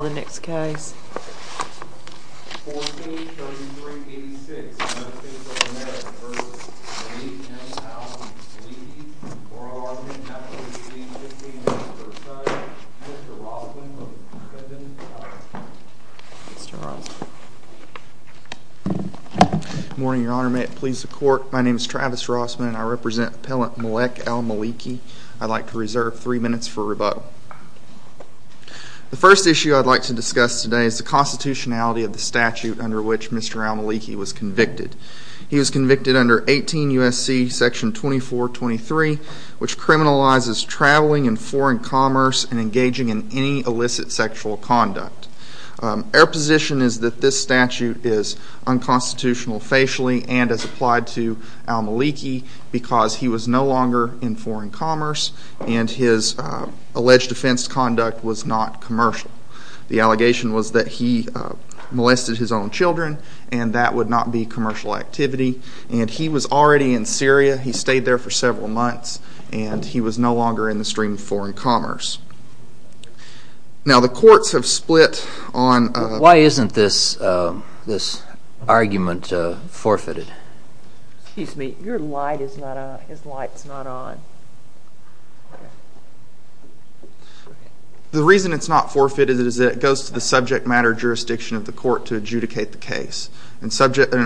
Morning, Your Honor. May it please the Court, my name is Travis Rossman and I represent Appellant Malek Al Maliki. I'd like to reserve three minutes for rebuttal. The first issue I'd like to discuss today is the constitutionality of the statute under which Mr. Al Maliki was convicted. He was convicted under 18 U.S.C. section 2423, which criminalizes traveling and foreign commerce and engaging in any illicit sexual conduct. Our position is that this statute is unconstitutional facially and as applied to Al Maliki because he was no longer in foreign commerce and his alleged offense conduct was not commercial. The allegation was that he molested his own children and that would not be commercial activity and he was already in Syria. He stayed there for several months and he was no longer in the stream of foreign commerce. Now, the courts have split on... His light's not on. The reason it's not forfeited is that it goes to the subject matter jurisdiction of the court to adjudicate the case. An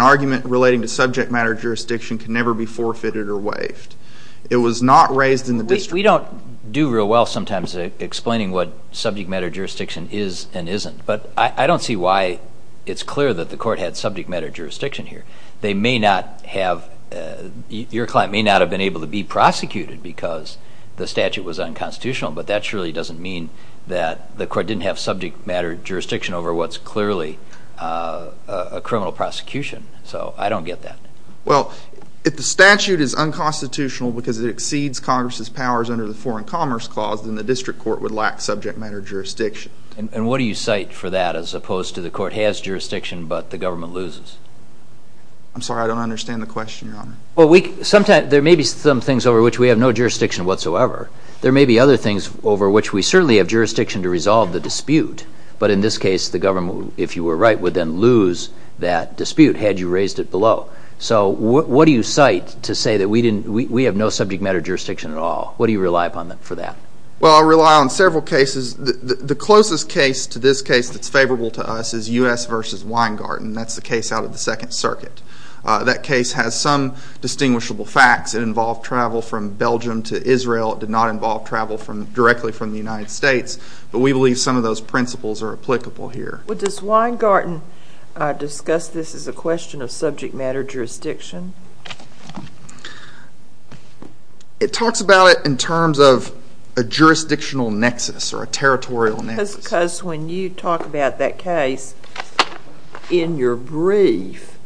argument relating to subject matter jurisdiction can never be forfeited or waived. It was not raised in the district... We don't do real well sometimes explaining what subject matter jurisdiction is and isn't, but I don't see why it's clear that the court had subject matter jurisdiction here. They may not have been able to be prosecuted because the statute was unconstitutional, but that surely doesn't mean that the court didn't have subject matter jurisdiction over what's clearly a criminal prosecution, so I don't get that. Well, if the statute is unconstitutional because it exceeds Congress's powers under the foreign commerce clause, then the district court would lack subject matter jurisdiction. And what do you cite for that as opposed to the court has jurisdiction but the government loses? I'm sorry, I don't understand the question, Your Honor. There may be some things over which we have no jurisdiction whatsoever. There may be other things over which we certainly have jurisdiction to resolve the dispute, but in this case, the government, if you were right, would then lose that dispute had you raised it below. So what do you cite to say that we have no subject matter jurisdiction at all? What do you rely upon for that? Well, I rely on several cases. The closest case to this case that's favorable to us is U.S. v. Weingarten. That's the case out of the Second Circuit. That case has some distinguishable facts. It involved travel from Belgium to Israel. It did not involve travel directly from the United States, but we believe some of those principles are applicable here. Well, does Weingarten discuss this as a question of subject matter jurisdiction? It talks about it in terms of a jurisdictional nexus or a territorial nexus. Because when you talk about that case in your brief,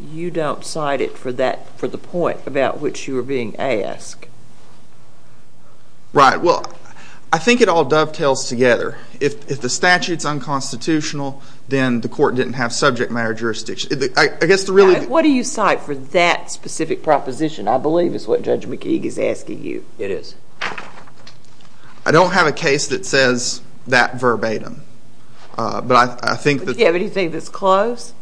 you don't cite it for the point about which you were being asked. Right. Well, I think it all dovetails together. If the statute's unconstitutional, then the court didn't have subject matter jurisdiction. What do you cite for that specific proposition, I believe, is what Judge McKeague is asking you. It is. I don't have a case that says that verbatim. But I think that... Do you have anything that's close?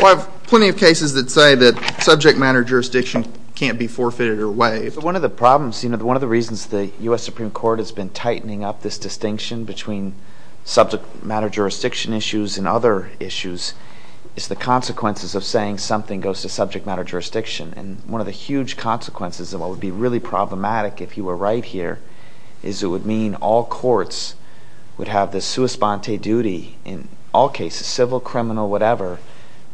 Well, I have plenty of cases that say that subject matter jurisdiction can't be forfeited or waived. One of the problems, one of the reasons the U.S. Supreme Court has been tightening up this distinction between subject matter jurisdiction issues and other issues is the consequences of saying something goes to subject matter jurisdiction. And one of the huge consequences of what would be really problematic if you were right here is it would mean all courts would have this sua sponte duty in all cases, civil, criminal, whatever,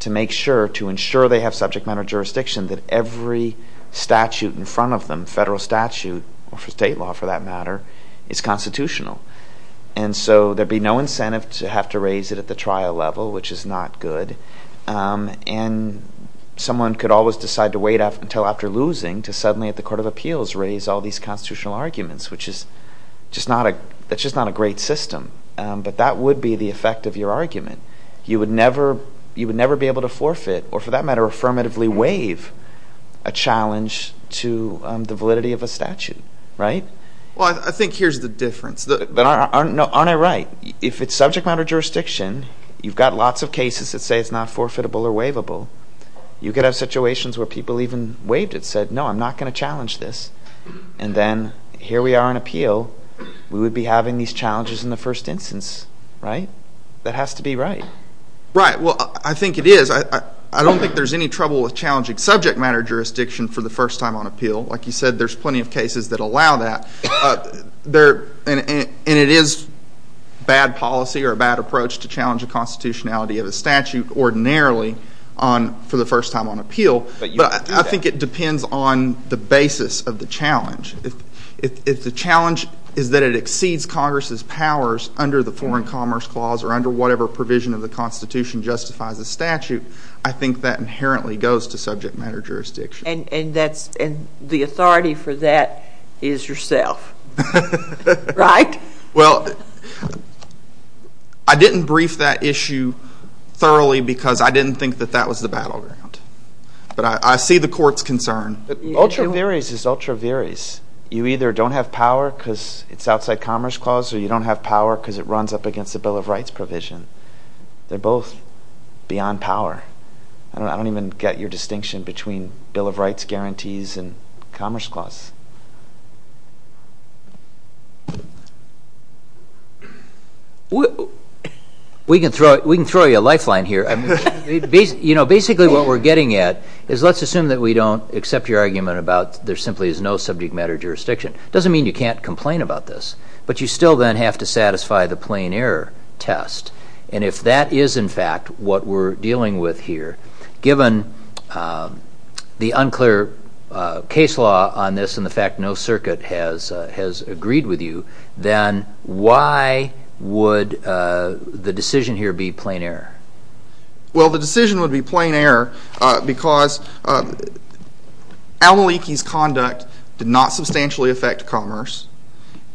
to make sure, to ensure they have subject matter jurisdiction, that every statute in front of them, federal statute, or state law for that matter, is constitutional. And so there'd be no incentive to have to raise it at the trial level, which is not good. And someone could always decide to wait until after losing to suddenly at the Court of Appeals raise all these constitutional arguments, which is just not a great system. But that would be the effect of your argument. You would never be able to forfeit or, for that matter, affirmatively waive a challenge to the validity of a statute, right? Well, I think here's the difference. But aren't I right? If it's subject matter jurisdiction, you've got lots of cases that say it's not forfeitable or waivable. You could have situations where people even waived it, said, no, I'm not going to challenge this. And then here we are on appeal, we would be having these challenges in the first instance, right? That has to be right. Right. Well, I think it is. I don't think there's any trouble with challenging subject matter jurisdiction for the first time on appeal. Like you said, there's plenty of cases that allow that. And it is bad policy or a bad approach to challenge the constitutionality of a statute ordinarily for the first time on appeal. But I think it depends on the basis of the challenge. If the challenge is that it exceeds Congress's powers under the Foreign Commerce Clause or under whatever provision of the Constitution justifies the statute, I think that inherently goes to subject matter jurisdiction. And the authority for that is yourself, right? Well, I didn't brief that issue thoroughly because I didn't think that that was the battleground. But I see the court's concern. Ultra viris is ultra viris. You either don't have power because it's outside Commerce Clause or you don't have power because it runs up against the Bill of Rights provision. They're both beyond power. I don't even get your distinction between Bill of Rights guarantees and Commerce Clause. We can throw you a lifeline here. Basically what we're getting at is let's assume that we don't accept your argument about there simply is no subject matter jurisdiction. Doesn't mean you can't complain about this. But you still then have to satisfy the plain error test. And if that is, in fact, what we're dealing with here, given the unclear case law on this and the fact no circuit has agreed with you, then why would the decision here be plain error? Well, the decision would be plain error because Al-Maliki's conduct did not substantially affect commerce.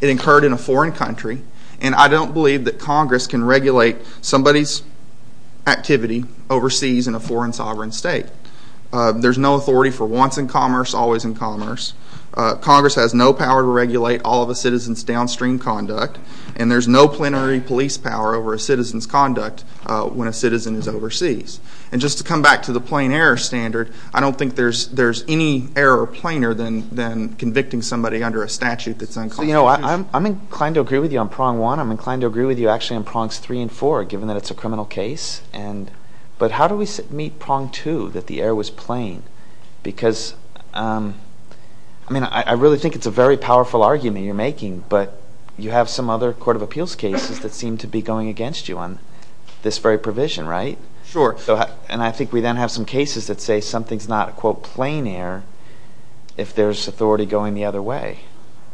It occurred in a foreign country. And I don't believe that Congress can regulate somebody's activity overseas in a foreign sovereign state. There's no authority for once in commerce, always in commerce. Congress has no power to regulate all of a citizen's downstream conduct. And there's no plenary police power over a citizen's conduct when a citizen is overseas. And just to come back to the plain error standard, I don't think there's any error plainer than convicting somebody under a statute that's unclear. I'm inclined to agree with you on prong one. I'm inclined to agree with you, actually, on prongs three and four, given that it's a criminal case. But how do we meet prong two, that the error was plain? Because I mean, I really think it's a very powerful argument you're making. But you have some other court of appeals cases that seem to be going against you on this very provision, right? Sure. And I think we then have some cases that say something's not, quote, plain error if there's authority going the other way.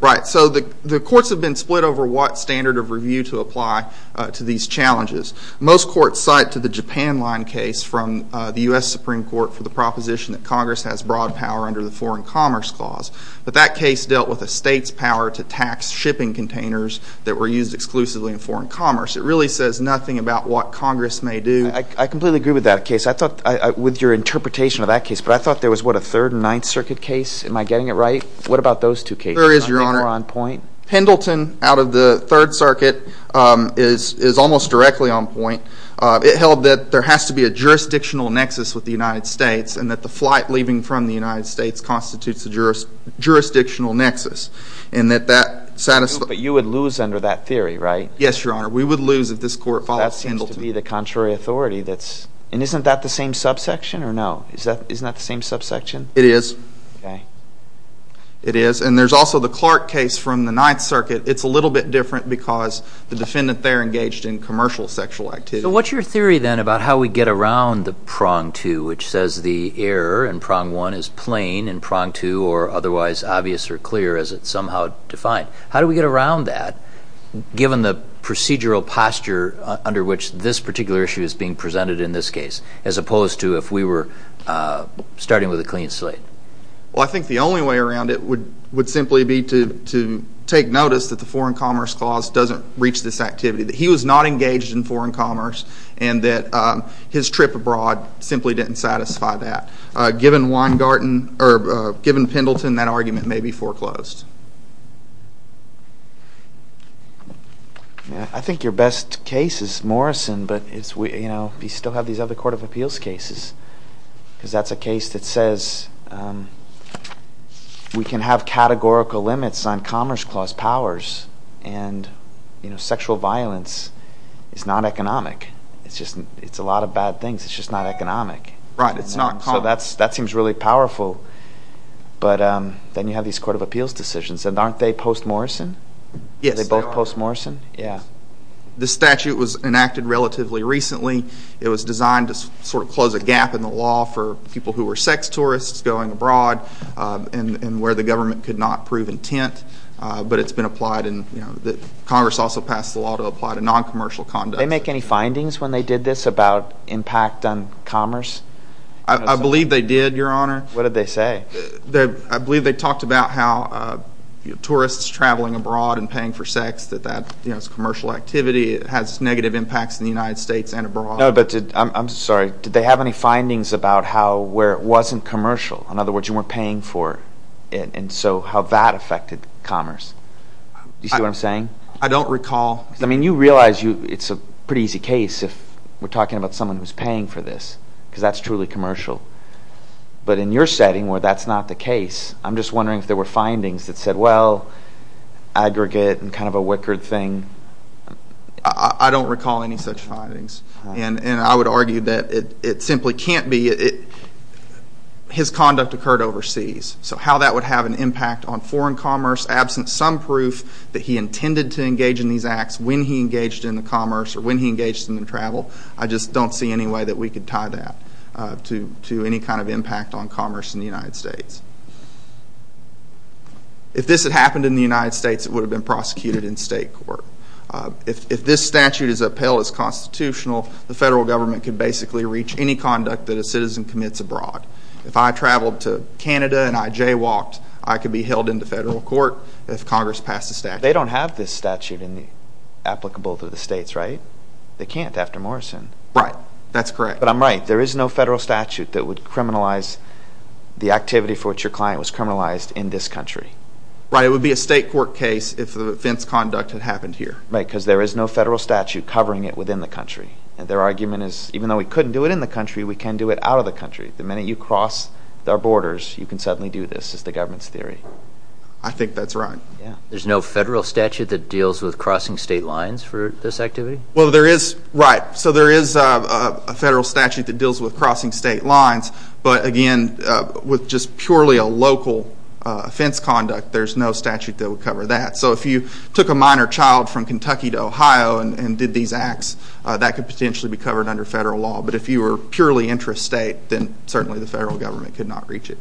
Right. So the courts have been split over what standard of review to apply to these challenges. Most courts cite to the Japan Line case from the U.S. Supreme Court for the proposition that Congress has broad power under the Foreign Commerce Clause. But that case dealt with a state's power to tax shipping containers that were used exclusively in foreign commerce. It really says nothing about what Congress may do. I completely agree with that case. I thought, with your interpretation of that case, but I thought there was, what, a Third and Ninth Circuit case? Am I getting it right? What about those two cases? There is, Your Honor. Are they more on point? Pendleton, out of the Third Circuit, is almost directly on point. It held that there has to be a jurisdictional nexus with the United States, and that the flight leaving from the United States constitutes a jurisdictional nexus. And that that satisf— But you would lose under that theory, right? Yes, Your Honor. We would lose if this court filed Pendleton. That seems to be the contrary authority that's—and isn't that the same subsection, or no? Isn't that the same subsection? It is. Okay. It is. And there's also the Clark case from the Ninth Circuit. It's a little bit different because the defendant there engaged in commercial sexual activity. So what's your theory, then, about how we get around the prong two, which says the error in prong one is plain in prong two, or otherwise obvious or clear as it's somehow defined? How do we get around that, given the procedural posture under which this particular issue is being presented in this case, as opposed to if we were starting with a clean slate? Well, I think the only way around it would simply be to take notice that the Foreign Commerce Clause doesn't reach this activity, that he was not engaged in foreign commerce, and that his trip abroad simply didn't satisfy that. Given Weingarten—or given Pendleton, that argument may be foreclosed. I mean, I think your best case is Morrison, but you still have these other Court of Appeals cases, because that's a case that says we can have categorical limits on Commerce Clause powers, and sexual violence is not economic. It's a lot of bad things. It's just not economic. Right. It's not commerce. So that seems really powerful, but then you have these Court of Appeals decisions, and aren't they post-Morrison? Yes, they are. Are they both post-Morrison? Yes. Yeah. The statute was enacted relatively recently. It was designed to sort of close a gap in the law for people who were sex tourists going abroad and where the government could not prove intent, but it's been applied and Congress also passed the law to apply to non-commercial conduct. Did they make any findings when they did this about impact on commerce? I believe they did, Your Honor. What did they say? I believe they talked about how tourists traveling abroad and paying for sex, that that's commercial activity. It has negative impacts in the United States and abroad. No, but did, I'm sorry, did they have any findings about how, where it wasn't commercial? In other words, you weren't paying for it, and so how that affected commerce. Do you see what I'm saying? I don't recall. I mean, you realize it's a pretty easy case if we're talking about someone who's paying for this because that's truly commercial, but in your setting where that's not the case, I'm just wondering if there were findings that said, well, aggregate and kind of a wickered thing. I don't recall any such findings, and I would argue that it simply can't be. His conduct occurred overseas, so how that would have an impact on foreign commerce absent some proof that he intended to engage in these acts when he engaged in the commerce or when he engaged in the travel, I just don't see any way that we could tie that to any kind of impact on commerce in the United States. If this had happened in the United States, it would have been prosecuted in state court. If this statute is upheld as constitutional, the federal government could basically reach any conduct that a citizen commits abroad. If I traveled to Canada and I jaywalked, I could be held in the federal court if Congress passed a statute. There's no federal statute applicable to the states, right? They can't after Morrison. Right. That's correct. But I'm right. There is no federal statute that would criminalize the activity for which your client was criminalized in this country. Right. It would be a state court case if the offense conduct had happened here. Right, because there is no federal statute covering it within the country. Their argument is even though we couldn't do it in the country, we can do it out of the country. The minute you cross our borders, you can suddenly do this is the government's theory. I think that's right. Yeah. So there's no federal statute that deals with crossing state lines for this activity? Well, there is. Right. So there is a federal statute that deals with crossing state lines, but again, with just purely a local offense conduct, there's no statute that would cover that. So if you took a minor child from Kentucky to Ohio and did these acts, that could potentially be covered under federal law. But if you were purely intrastate, then certainly the federal government could not reach it.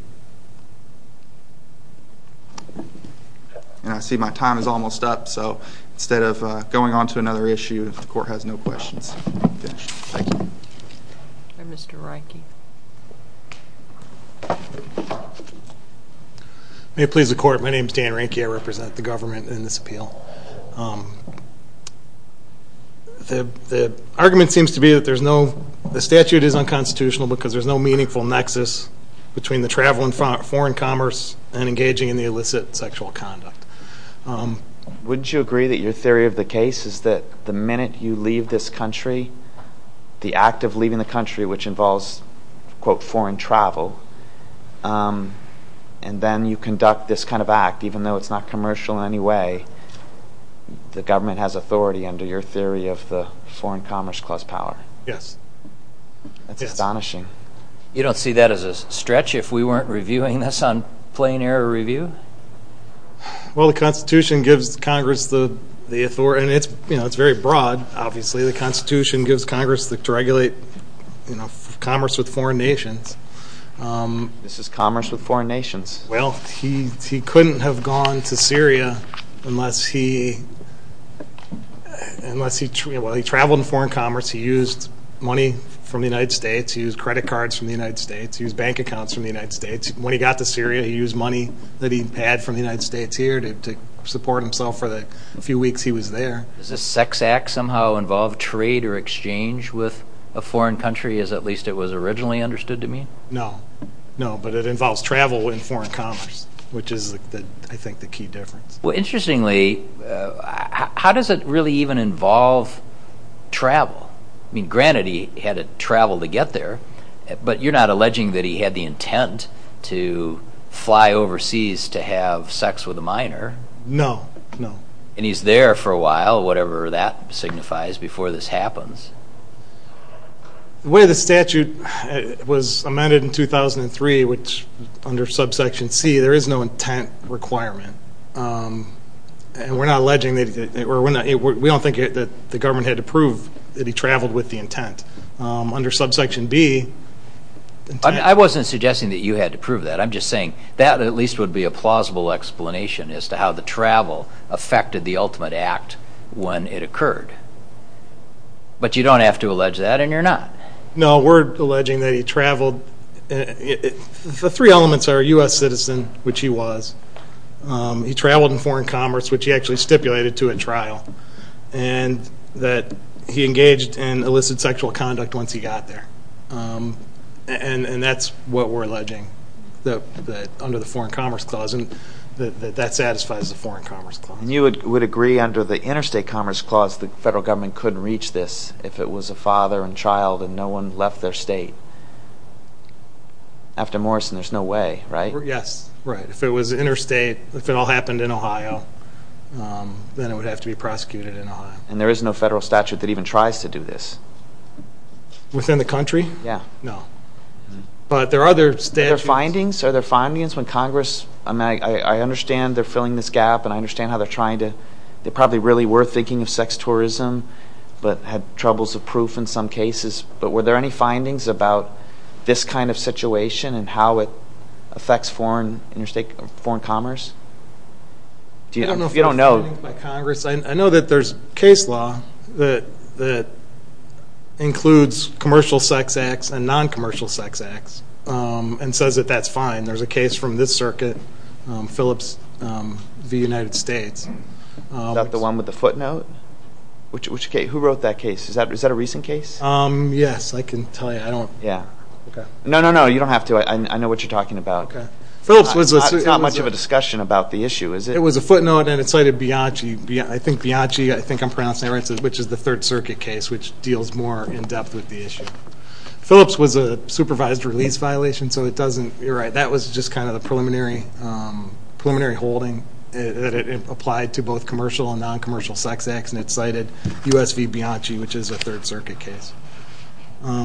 And I see my time is almost up, so instead of going on to another issue, if the court has no questions, we can finish. Thank you. All right. Mr. Reinke. May it please the court, my name is Dan Reinke. I represent the government in this appeal. The argument seems to be that the statute is unconstitutional because there's no meaningful nexus between the travel and foreign commerce and engaging in the illicit sexual conduct. Would you agree that your theory of the case is that the minute you leave this country, the act of leaving the country, which involves, quote, foreign travel, and then you conduct this kind of act, even though it's not commercial in any way, the government has authority under your theory of the Foreign Commerce Clause power? Yes. That's astonishing. You don't see that as a stretch if we weren't reviewing this on Plain Air Review? Well, the Constitution gives Congress the authority, and it's very broad, obviously. The Constitution gives Congress the right to regulate commerce with foreign nations. This is commerce with foreign nations. Well, he couldn't have gone to Syria unless he traveled in foreign commerce, he used money from the United States, he used credit cards from the United States, he used bank accounts from the United States. When he got to Syria, he used money that he had from the United States here to support himself for the few weeks he was there. Does this sex act somehow involve trade or exchange with a foreign country, as at least it was originally understood to mean? No. No, but it involves travel in foreign commerce, which is, I think, the key difference. Well, interestingly, how does it really even involve travel? I mean, granted, he had to travel to get there, but you're not alleging that he had the intent to fly overseas to have sex with a minor? No, no. And he's there for a while, whatever that signifies, before this happens? The way the statute was amended in 2003, which under subsection C, there is no intent requirement. And we're not alleging that, or we don't think that the government had to prove that he traveled with the intent. Under subsection B, the intent... I wasn't suggesting that you had to prove that. I'm just saying that at least would be a plausible explanation as to how the travel affected the ultimate act when it occurred. But you don't have to allege that, and you're not. No, we're alleging that he traveled. The three elements are U.S. citizen, which he was, he traveled in foreign commerce, which he actually stipulated to a trial, and that he engaged in illicit sexual conduct once he got there. And that's what we're alleging under the Foreign Commerce Clause, and that that satisfies the Foreign Commerce Clause. And you would agree under the Interstate Commerce Clause the federal government couldn't reach this if it was a father and child and no one left their state. After Morrison, there's no way, right? Yes. Right. If it was interstate, if it all happened in Ohio, then it would have to be prosecuted in Ohio. And there is no federal statute that even tries to do this. Within the country? Yeah. But there are other statutes... Are there findings? Are there findings when Congress... I mean, I understand they're filling this gap, and I understand how they're trying to... They probably really were thinking of sex tourism, but had troubles of proof in some cases. But were there any findings about this kind of situation and how it affects foreign, interstate foreign commerce? Do you... I don't know if there are findings by Congress. I know that there's case law that includes commercial sex acts and non-commercial sex acts, and says that that's fine. There's a case from this circuit, Phillips v. United States. Is that the one with the footnote? Which case? Who wrote that case? Is that a recent case? Yes. I can tell you. I don't... Yeah. Okay. No, no, no. You don't have to. I know what you're talking about. Okay. Phillips was... It's not much of a discussion about the issue, is it? It was a footnote, and it cited Bianchi. I think Bianchi, I think I'm pronouncing it right, which is the Third Circuit case, which deals more in-depth with the issue. Phillips was a supervised release violation, so it doesn't... You're right. That was just kind of the preliminary holding that it applied to both commercial and non-commercial sex acts, and it cited U.S. v. Bianchi, which is a Third Circuit case,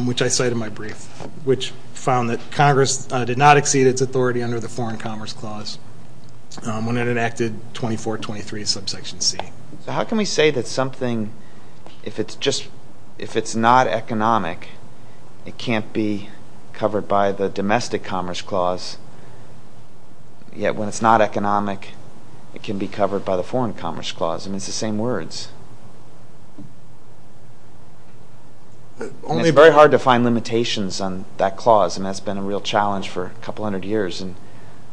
which I cite in my brief, which found that Congress did not exceed its authority under the Foreign Commerce Clause when it enacted 2423 subsection C. How can we say that something, if it's not economic, it can't be covered by the Domestic Commerce Clause, yet when it's not economic, it can be covered by the Foreign Commerce Clause? I mean, it's the same words. Only... And it's very hard to find limitations on that clause, and that's been a real challenge for a couple hundred years, and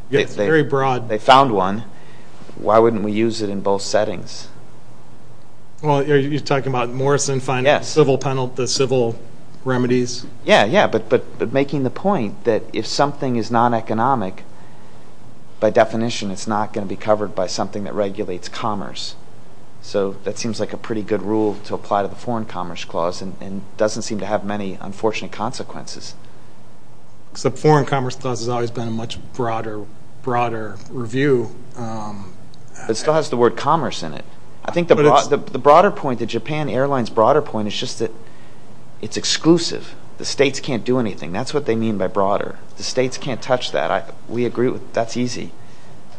they found one. Why wouldn't we use it in both settings? Well, you're talking about Morrison finding the civil penalties, the civil remedies? Yes. Yeah, yeah, but making the point that if something is non-economic, by definition, it's not going to be covered by something that regulates commerce. So that seems like a pretty good rule to apply to the Foreign Commerce Clause and doesn't seem to have many unfortunate consequences. Except Foreign Commerce Clause has always been a much broader review. It still has the word commerce in it. I think the broader point, the Japan Airlines broader point, is just that it's exclusive. The states can't do anything. That's what they mean by broader. The states can't touch that. We agree with that. That's easy.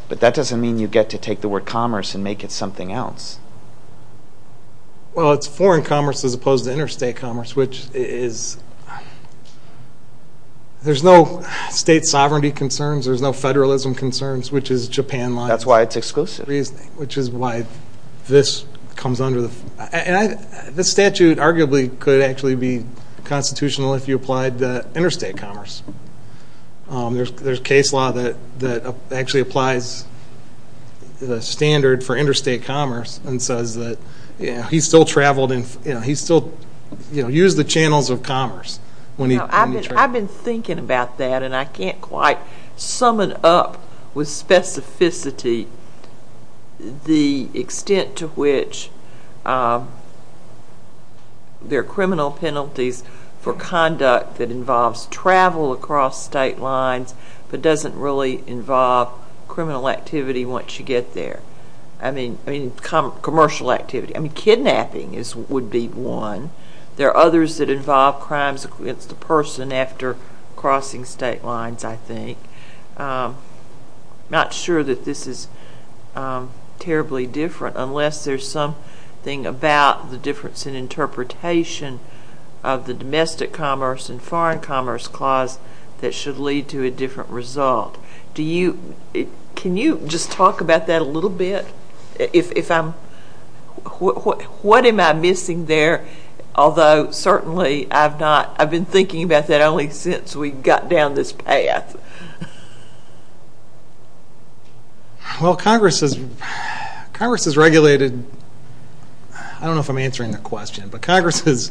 But that doesn't mean you get to take the word commerce and make it something else. Well, it's foreign commerce as opposed to interstate commerce, which is... There's no state sovereignty concerns. There's no federalism concerns, which is Japan lines. That's why it's exclusive. Which is why this comes under the... The statute arguably could actually be constitutional if you applied interstate commerce. There's case law that actually applies the standard for interstate commerce and says that he still traveled and he still used the channels of commerce when he traveled. I've been thinking about that and I can't quite sum it up with specificity the extent to which there are criminal penalties for conduct that involves travel across state lines but doesn't really involve criminal activity once you get there. I mean commercial activity. Kidnapping would be one. There are others that involve crimes against the person after crossing state lines, I think. I'm not sure that this is terribly different unless there's something about the difference in interpretation of the domestic commerce and foreign commerce clause that should lead to a different result. Do you... Can you just talk about that a little bit? If I'm... What am I missing there? Although certainly I've not... I've been thinking about that only since we got down this path. Well Congress has regulated... I don't know if I'm answering the question but Congress has...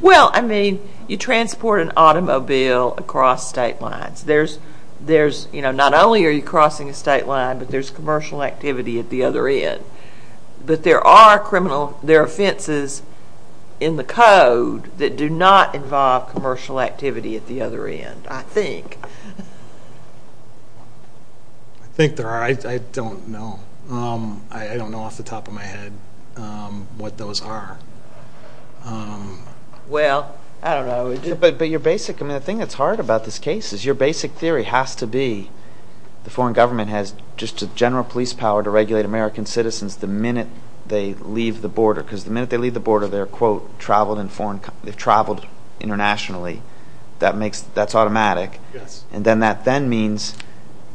Well I mean you transport an automobile across state lines. Not only are you crossing a state line but there's commercial activity at the other end. But there are criminal... There are offenses in the code that do not involve commercial activity at the other end, I think. I think there are. I don't know. I don't know off the top of my head what those are. Well, I don't know. But your basic... I mean the thing that's hard about this case is your basic theory has to be the foreign government has just a general police power to regulate American citizens the minute they leave the border. Because the minute they leave the border they're, quote, traveled in foreign... They've traveled internationally. That makes... That's automatic. And then that then means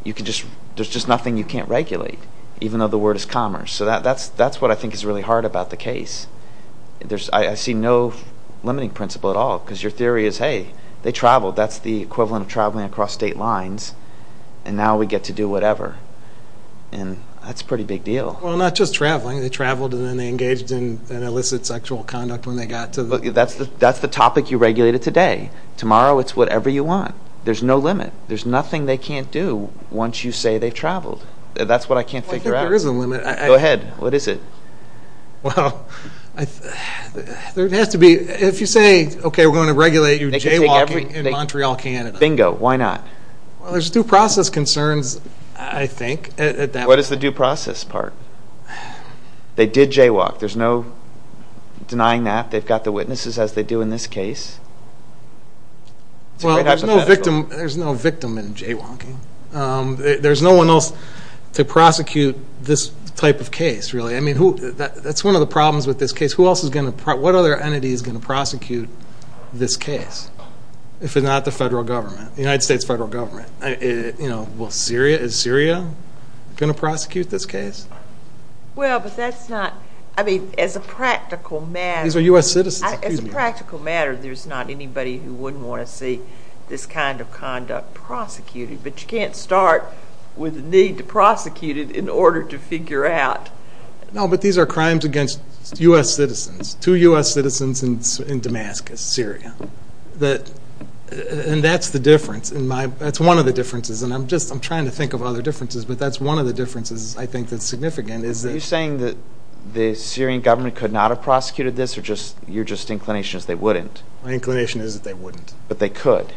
you can just... There's just nothing you can't regulate even though the word is commerce. So that's what I think is really hard about the case. There's... I see no limiting principle at all because your theory is, hey, they traveled. That's the equivalent of traveling across state lines. And now we get to do whatever. And that's a pretty big deal. Well, not just traveling. They traveled and then they engaged in illicit sexual conduct when they got to the... That's the topic you regulated today. Tomorrow it's whatever you want. There's no limit. There's nothing they can't do once you say they've traveled. That's what I can't figure out. Well, I think there is a limit. Go ahead. What is it? Well, there has to be... If you say, okay, we're going to regulate your jaywalking in Montreal, Canada. Bingo. Why not? Well, there's due process concerns, I think, at that point. What is the due process part? They did jaywalk. There's no denying that. They've got the witnesses as they do in this case. Well, there's no victim in jaywalking. There's no one else to prosecute this type of case, really. I mean, that's one of the problems with this case. Who else is going to... What other entity is going to prosecute this case if it's not the federal government, the United States federal government? Is Syria going to prosecute this case? Well, but that's not... I mean, as a practical matter... These are U.S. citizens. As a practical matter, there's not anybody who wouldn't want to see this kind of conduct prosecuted. But you can't start with the need to prosecute it in order to figure out... No, but these are crimes against U.S. citizens. Two U.S. citizens in Damascus, Syria. And that's the difference. That's one of the differences. And I'm just trying to think of other differences. But that's one of the differences I think that's significant is that... Are you saying that the Syrian government could not have prosecuted this? Or you're just inclination is they wouldn't? My inclination is that they wouldn't. But they could.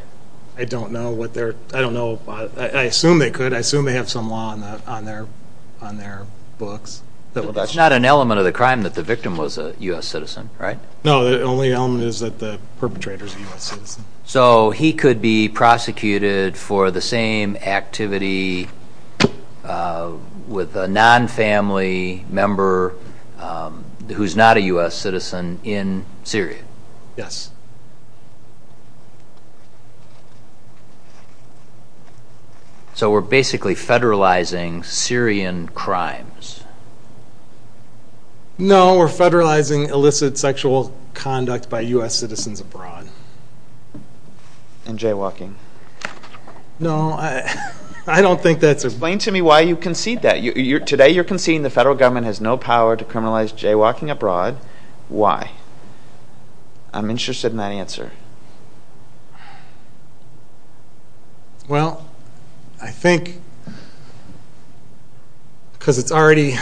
I don't know what their... I don't know. I assume they could. I assume they have some law on their books. That's not an element of the crime that the victim was a U.S. citizen, right? No, the only element is that the perpetrator is a U.S. citizen. So he could be prosecuted for the same activity with a non-family member who's not a U.S. citizen in Syria? Yes. So we're basically federalizing Syrian crimes? No, we're federalizing illicit sexual conduct by U.S. citizens abroad. And jaywalking? No, I don't think that's a... Explain to me why you concede that. Today you're conceding the federal government has no power to criminalize jaywalking abroad. Why? I'm interested in that answer. Well, I think... Because it's already...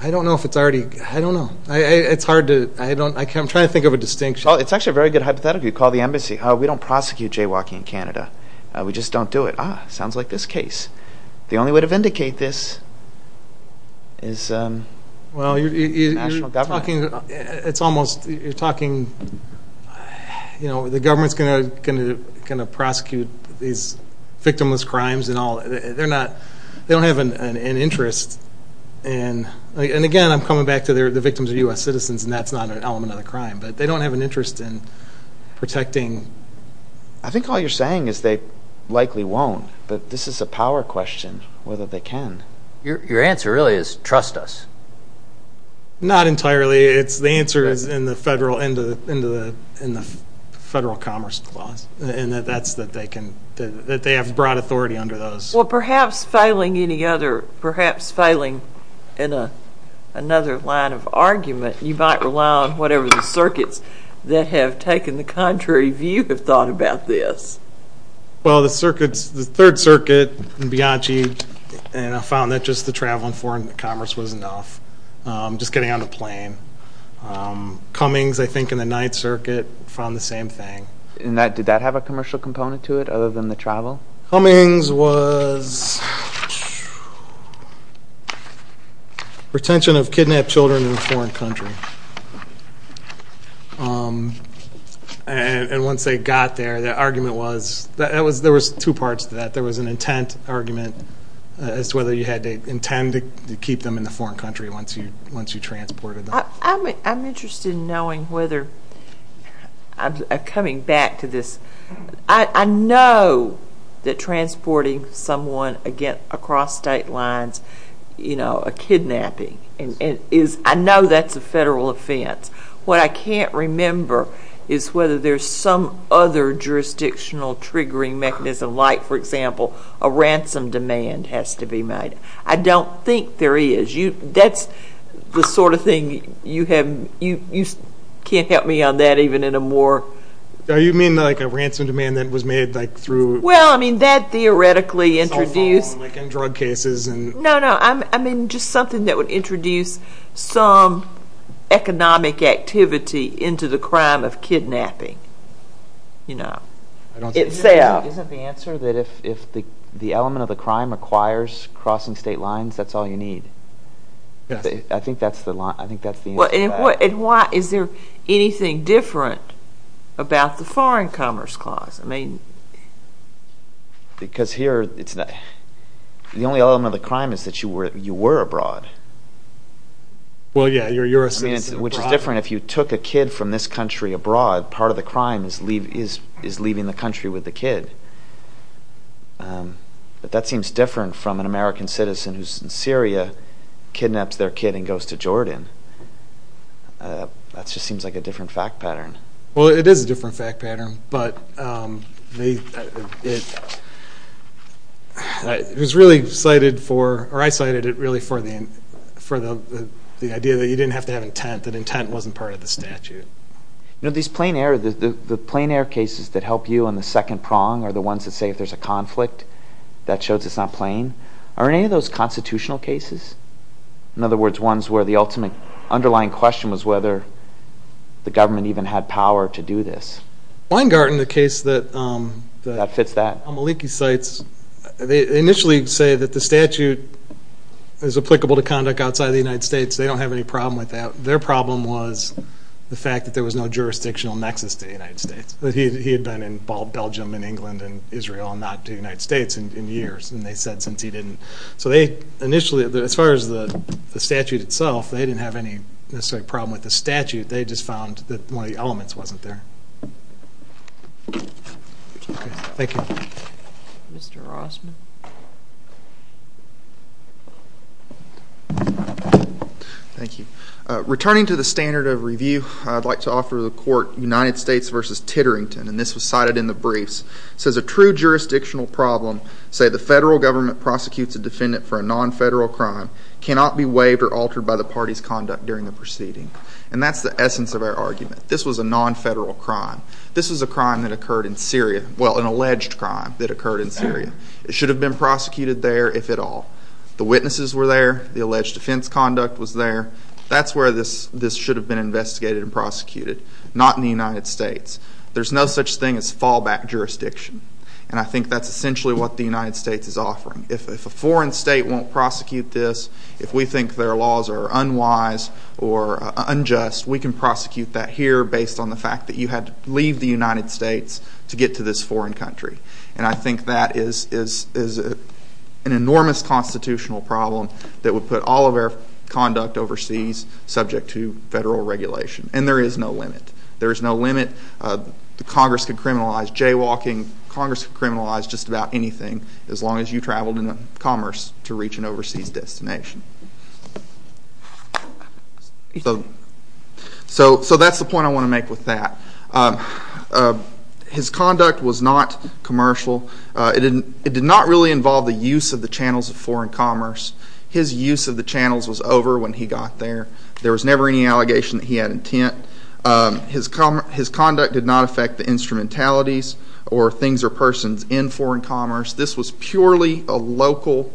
I don't know if it's already... I don't know. It's hard to... I'm trying to think of a distinction. It's actually a very good hypothetical. You call the embassy. We don't prosecute jaywalking in Canada. We just don't do it. Ah, sounds like this case. The only way to vindicate this is national government. You're talking... The government's going to prosecute these victimless crimes. They don't have an interest. And again, I'm coming back to the victims are U.S. citizens. And that's not an element of the crime. But they don't have an interest in protecting... I think all you're saying is they likely won't. But this is a power question, whether they can. Your answer really is, trust us. Not entirely. The answer is in the Federal Commerce Clause. And that's that they can... That they have broad authority under those. Well, perhaps failing any other... Perhaps failing in another line of argument, you might rely on whatever the circuits that have taken the contrary view have thought about this. Well, the circuits, the Third Circuit and Bianchi, and I found that just the travel and foreign commerce was enough. Just getting on a plane. Cummings, I think, and the Ninth Circuit found the same thing. Did that have a commercial component to it, other than the travel? Cummings was... retention of kidnapped children in a foreign country. And once they got there, the argument was... There was two parts to that. There was an intent argument as to whether you had to intend to keep them in a foreign country once you transported them. I'm interested in knowing whether... Coming back to this. I know that transporting someone across state lines, you know, a kidnapping, I know that's a Federal offense. What I can't remember is whether there's some other jurisdictional triggering mechanism, like, for example, a ransom demand has to be made. I don't think there is. That's the sort of thing you have... You can't help me on that, even in a more... You mean like a ransom demand that was made, like, through... Well, I mean, that theoretically introduced... Like in drug cases and... No, no, I mean just something that would introduce some economic activity into the crime of kidnapping. You know. Isn't the answer that if the element of the crime acquires crossing state lines, that's all you need? Yes. I think that's the answer to that. And why... Is there anything different about the Foreign Commerce Clause? I mean... Because here, it's not... The only element of the crime is that you were abroad. Well, yeah, you're a citizen abroad. Which is different. If you took a kid from this country abroad, part of the crime is leaving the country with the kid. But that seems different from an American citizen who's in Syria, kidnaps their kid, and goes to Jordan. That just seems like a different fact pattern. Well, it is a different fact pattern, but... It was really cited for... Or I cited it really for the idea that you didn't have to have intent. That intent wasn't part of the statute. You know, these plain error... The plain error cases that help you on the second prong are the ones that say if there's a conflict, that shows it's not plain. Are any of those constitutional cases? In other words, ones where the ultimate underlying question was whether the government even had power to do this. Weingarten, the case that... That fits that. Maliki cites, they initially say that the statute is applicable to conduct outside the United States. They don't have any problem with that. Their problem was the fact that there was no jurisdictional nexus to the United States. He had been in Belgium and England and Israel and not to the United States in years. And they said since he didn't... So they initially, as far as the statute itself, they didn't have any problem with the statute. They just found that one of the elements wasn't there. Thank you. Mr. Rossman? Thank you. Returning to the standard of review, I'd like to offer the court United States v. Titterington. And this was cited in the briefs. It says a true jurisdictional problem, say the federal government prosecutes a defendant for a non-federal crime, cannot be waived or altered by the party's conduct during the proceeding. And that's the essence of our argument. This was a non-federal crime. Well, an alleged crime that occurred in Syria. It should have been a non-federal crime. It should have been prosecuted there, if at all. The witnesses were there. The alleged offense conduct was there. That's where this should have been investigated and prosecuted. Not in the United States. There's no such thing as fallback jurisdiction. And I think that's essentially what the United States is offering. If a foreign state won't prosecute this, if we think their laws are unwise or unjust, we can prosecute that here based on the fact that you had to leave the United States to get to this foreign country. And I think that is an enormous constitutional problem that would put all of our conduct overseas subject to federal regulation. And there is no limit. There is no limit. Congress could criminalize jaywalking. Congress could criminalize just about anything as long as you traveled in commerce to reach an overseas destination. So that's the point I want to make with that. His conduct was not commercial. It did not really involve the use of the channels of foreign commerce. His use of the channels was over when he got there. There was never any allegation that he had intent. His conduct did not affect the instrumentalities or things or persons in foreign commerce. This was purely a local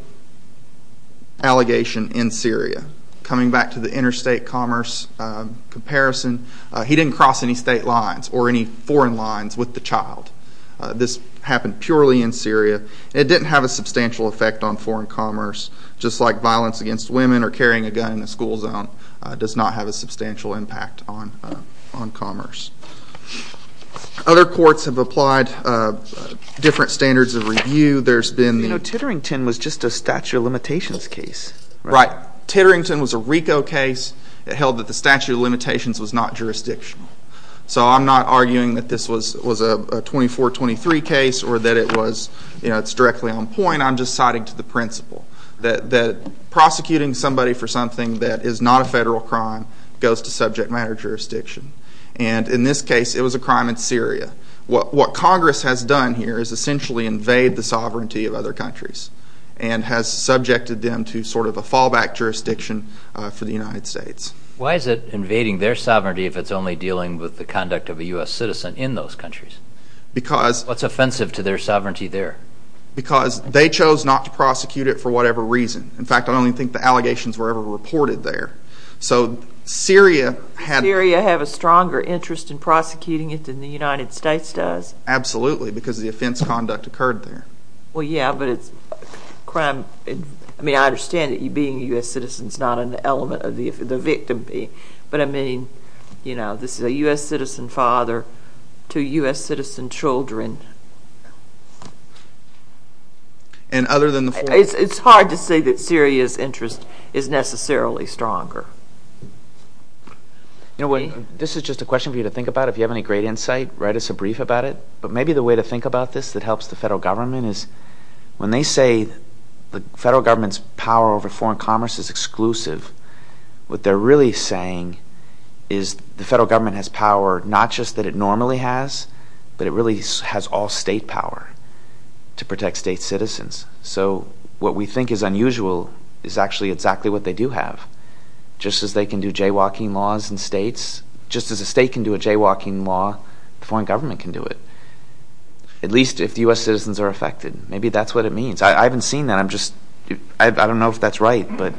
allegation in Syria. Coming back to the interstate commerce comparison, he didn't cross any state lines or any foreign lines with the child. This happened purely in Syria. It didn't have a substantial effect on foreign commerce, just like violence against women or carrying a gun in the school zone does not have a substantial impact on commerce. Other courts have applied different standards of review. You know, Titterington was just a statute of limitations case. Titterington was a RICO case. It held that the statute of limitations was not jurisdictional. I'm not arguing that this was a 24-23 case or that it was directly on point. I'm just citing to the principle that prosecuting somebody for something that is not a federal crime goes to subject matter jurisdiction. In this case, it was a crime in Syria. What Congress has done here is essentially invade the sovereignty of other countries and has subjected them to sort of a fallback jurisdiction for the United States. Why is it invading their sovereignty if it's only dealing with the conduct of a U.S. citizen in those countries? What's offensive to their sovereignty there? Because they chose not to prosecute it for whatever reason. In fact, I don't think the allegations were ever reported there. So, Syria had... Syria had a stronger interest in prosecuting it than the United States does? Absolutely, because the offense conduct occurred there. Well, yeah, but it's... I mean, I understand that being a U.S. citizen is not an element of the victim being... But, I mean, you know, this is a U.S. citizen father to U.S. citizen children. It's hard to say that Syria's interest is necessarily stronger. You know, this is just a question for you to think about. If you have any great insight, write us a brief about it. But maybe the way to think about this that helps the federal government is when they say the federal government's power over foreign commerce is exclusive, what they're really saying is the federal government has power, not just that it normally has, but it really has all state power to protect state citizens. So, what we think is unusual is actually exactly what they do have. Just as they can do jaywalking laws in states, just as a state can do a jaywalking law, the foreign government can do it. At least if U.S. citizens are affected. Maybe that's what it means. I haven't seen that. I'm just... I don't know if that's right, but...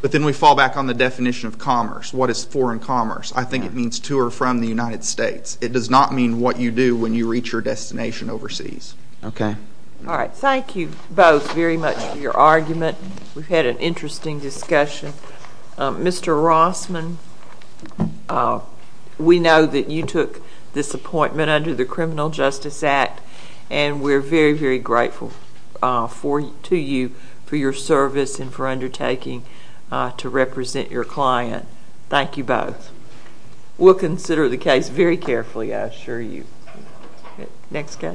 But then we fall back on the definition of commerce. What is foreign commerce? I think it means to or from the United States. It does not mean what you do when you reach your destination overseas. Okay. All right. Thank you both very much for your argument. We've had an interesting discussion. Mr. Rossman, we know that you took this appointment under the Criminal Justice Act, and we're very, very grateful to you for your service and for undertaking to represent your client. Thank you both. We'll consider the case very carefully, I assure you. Next guy.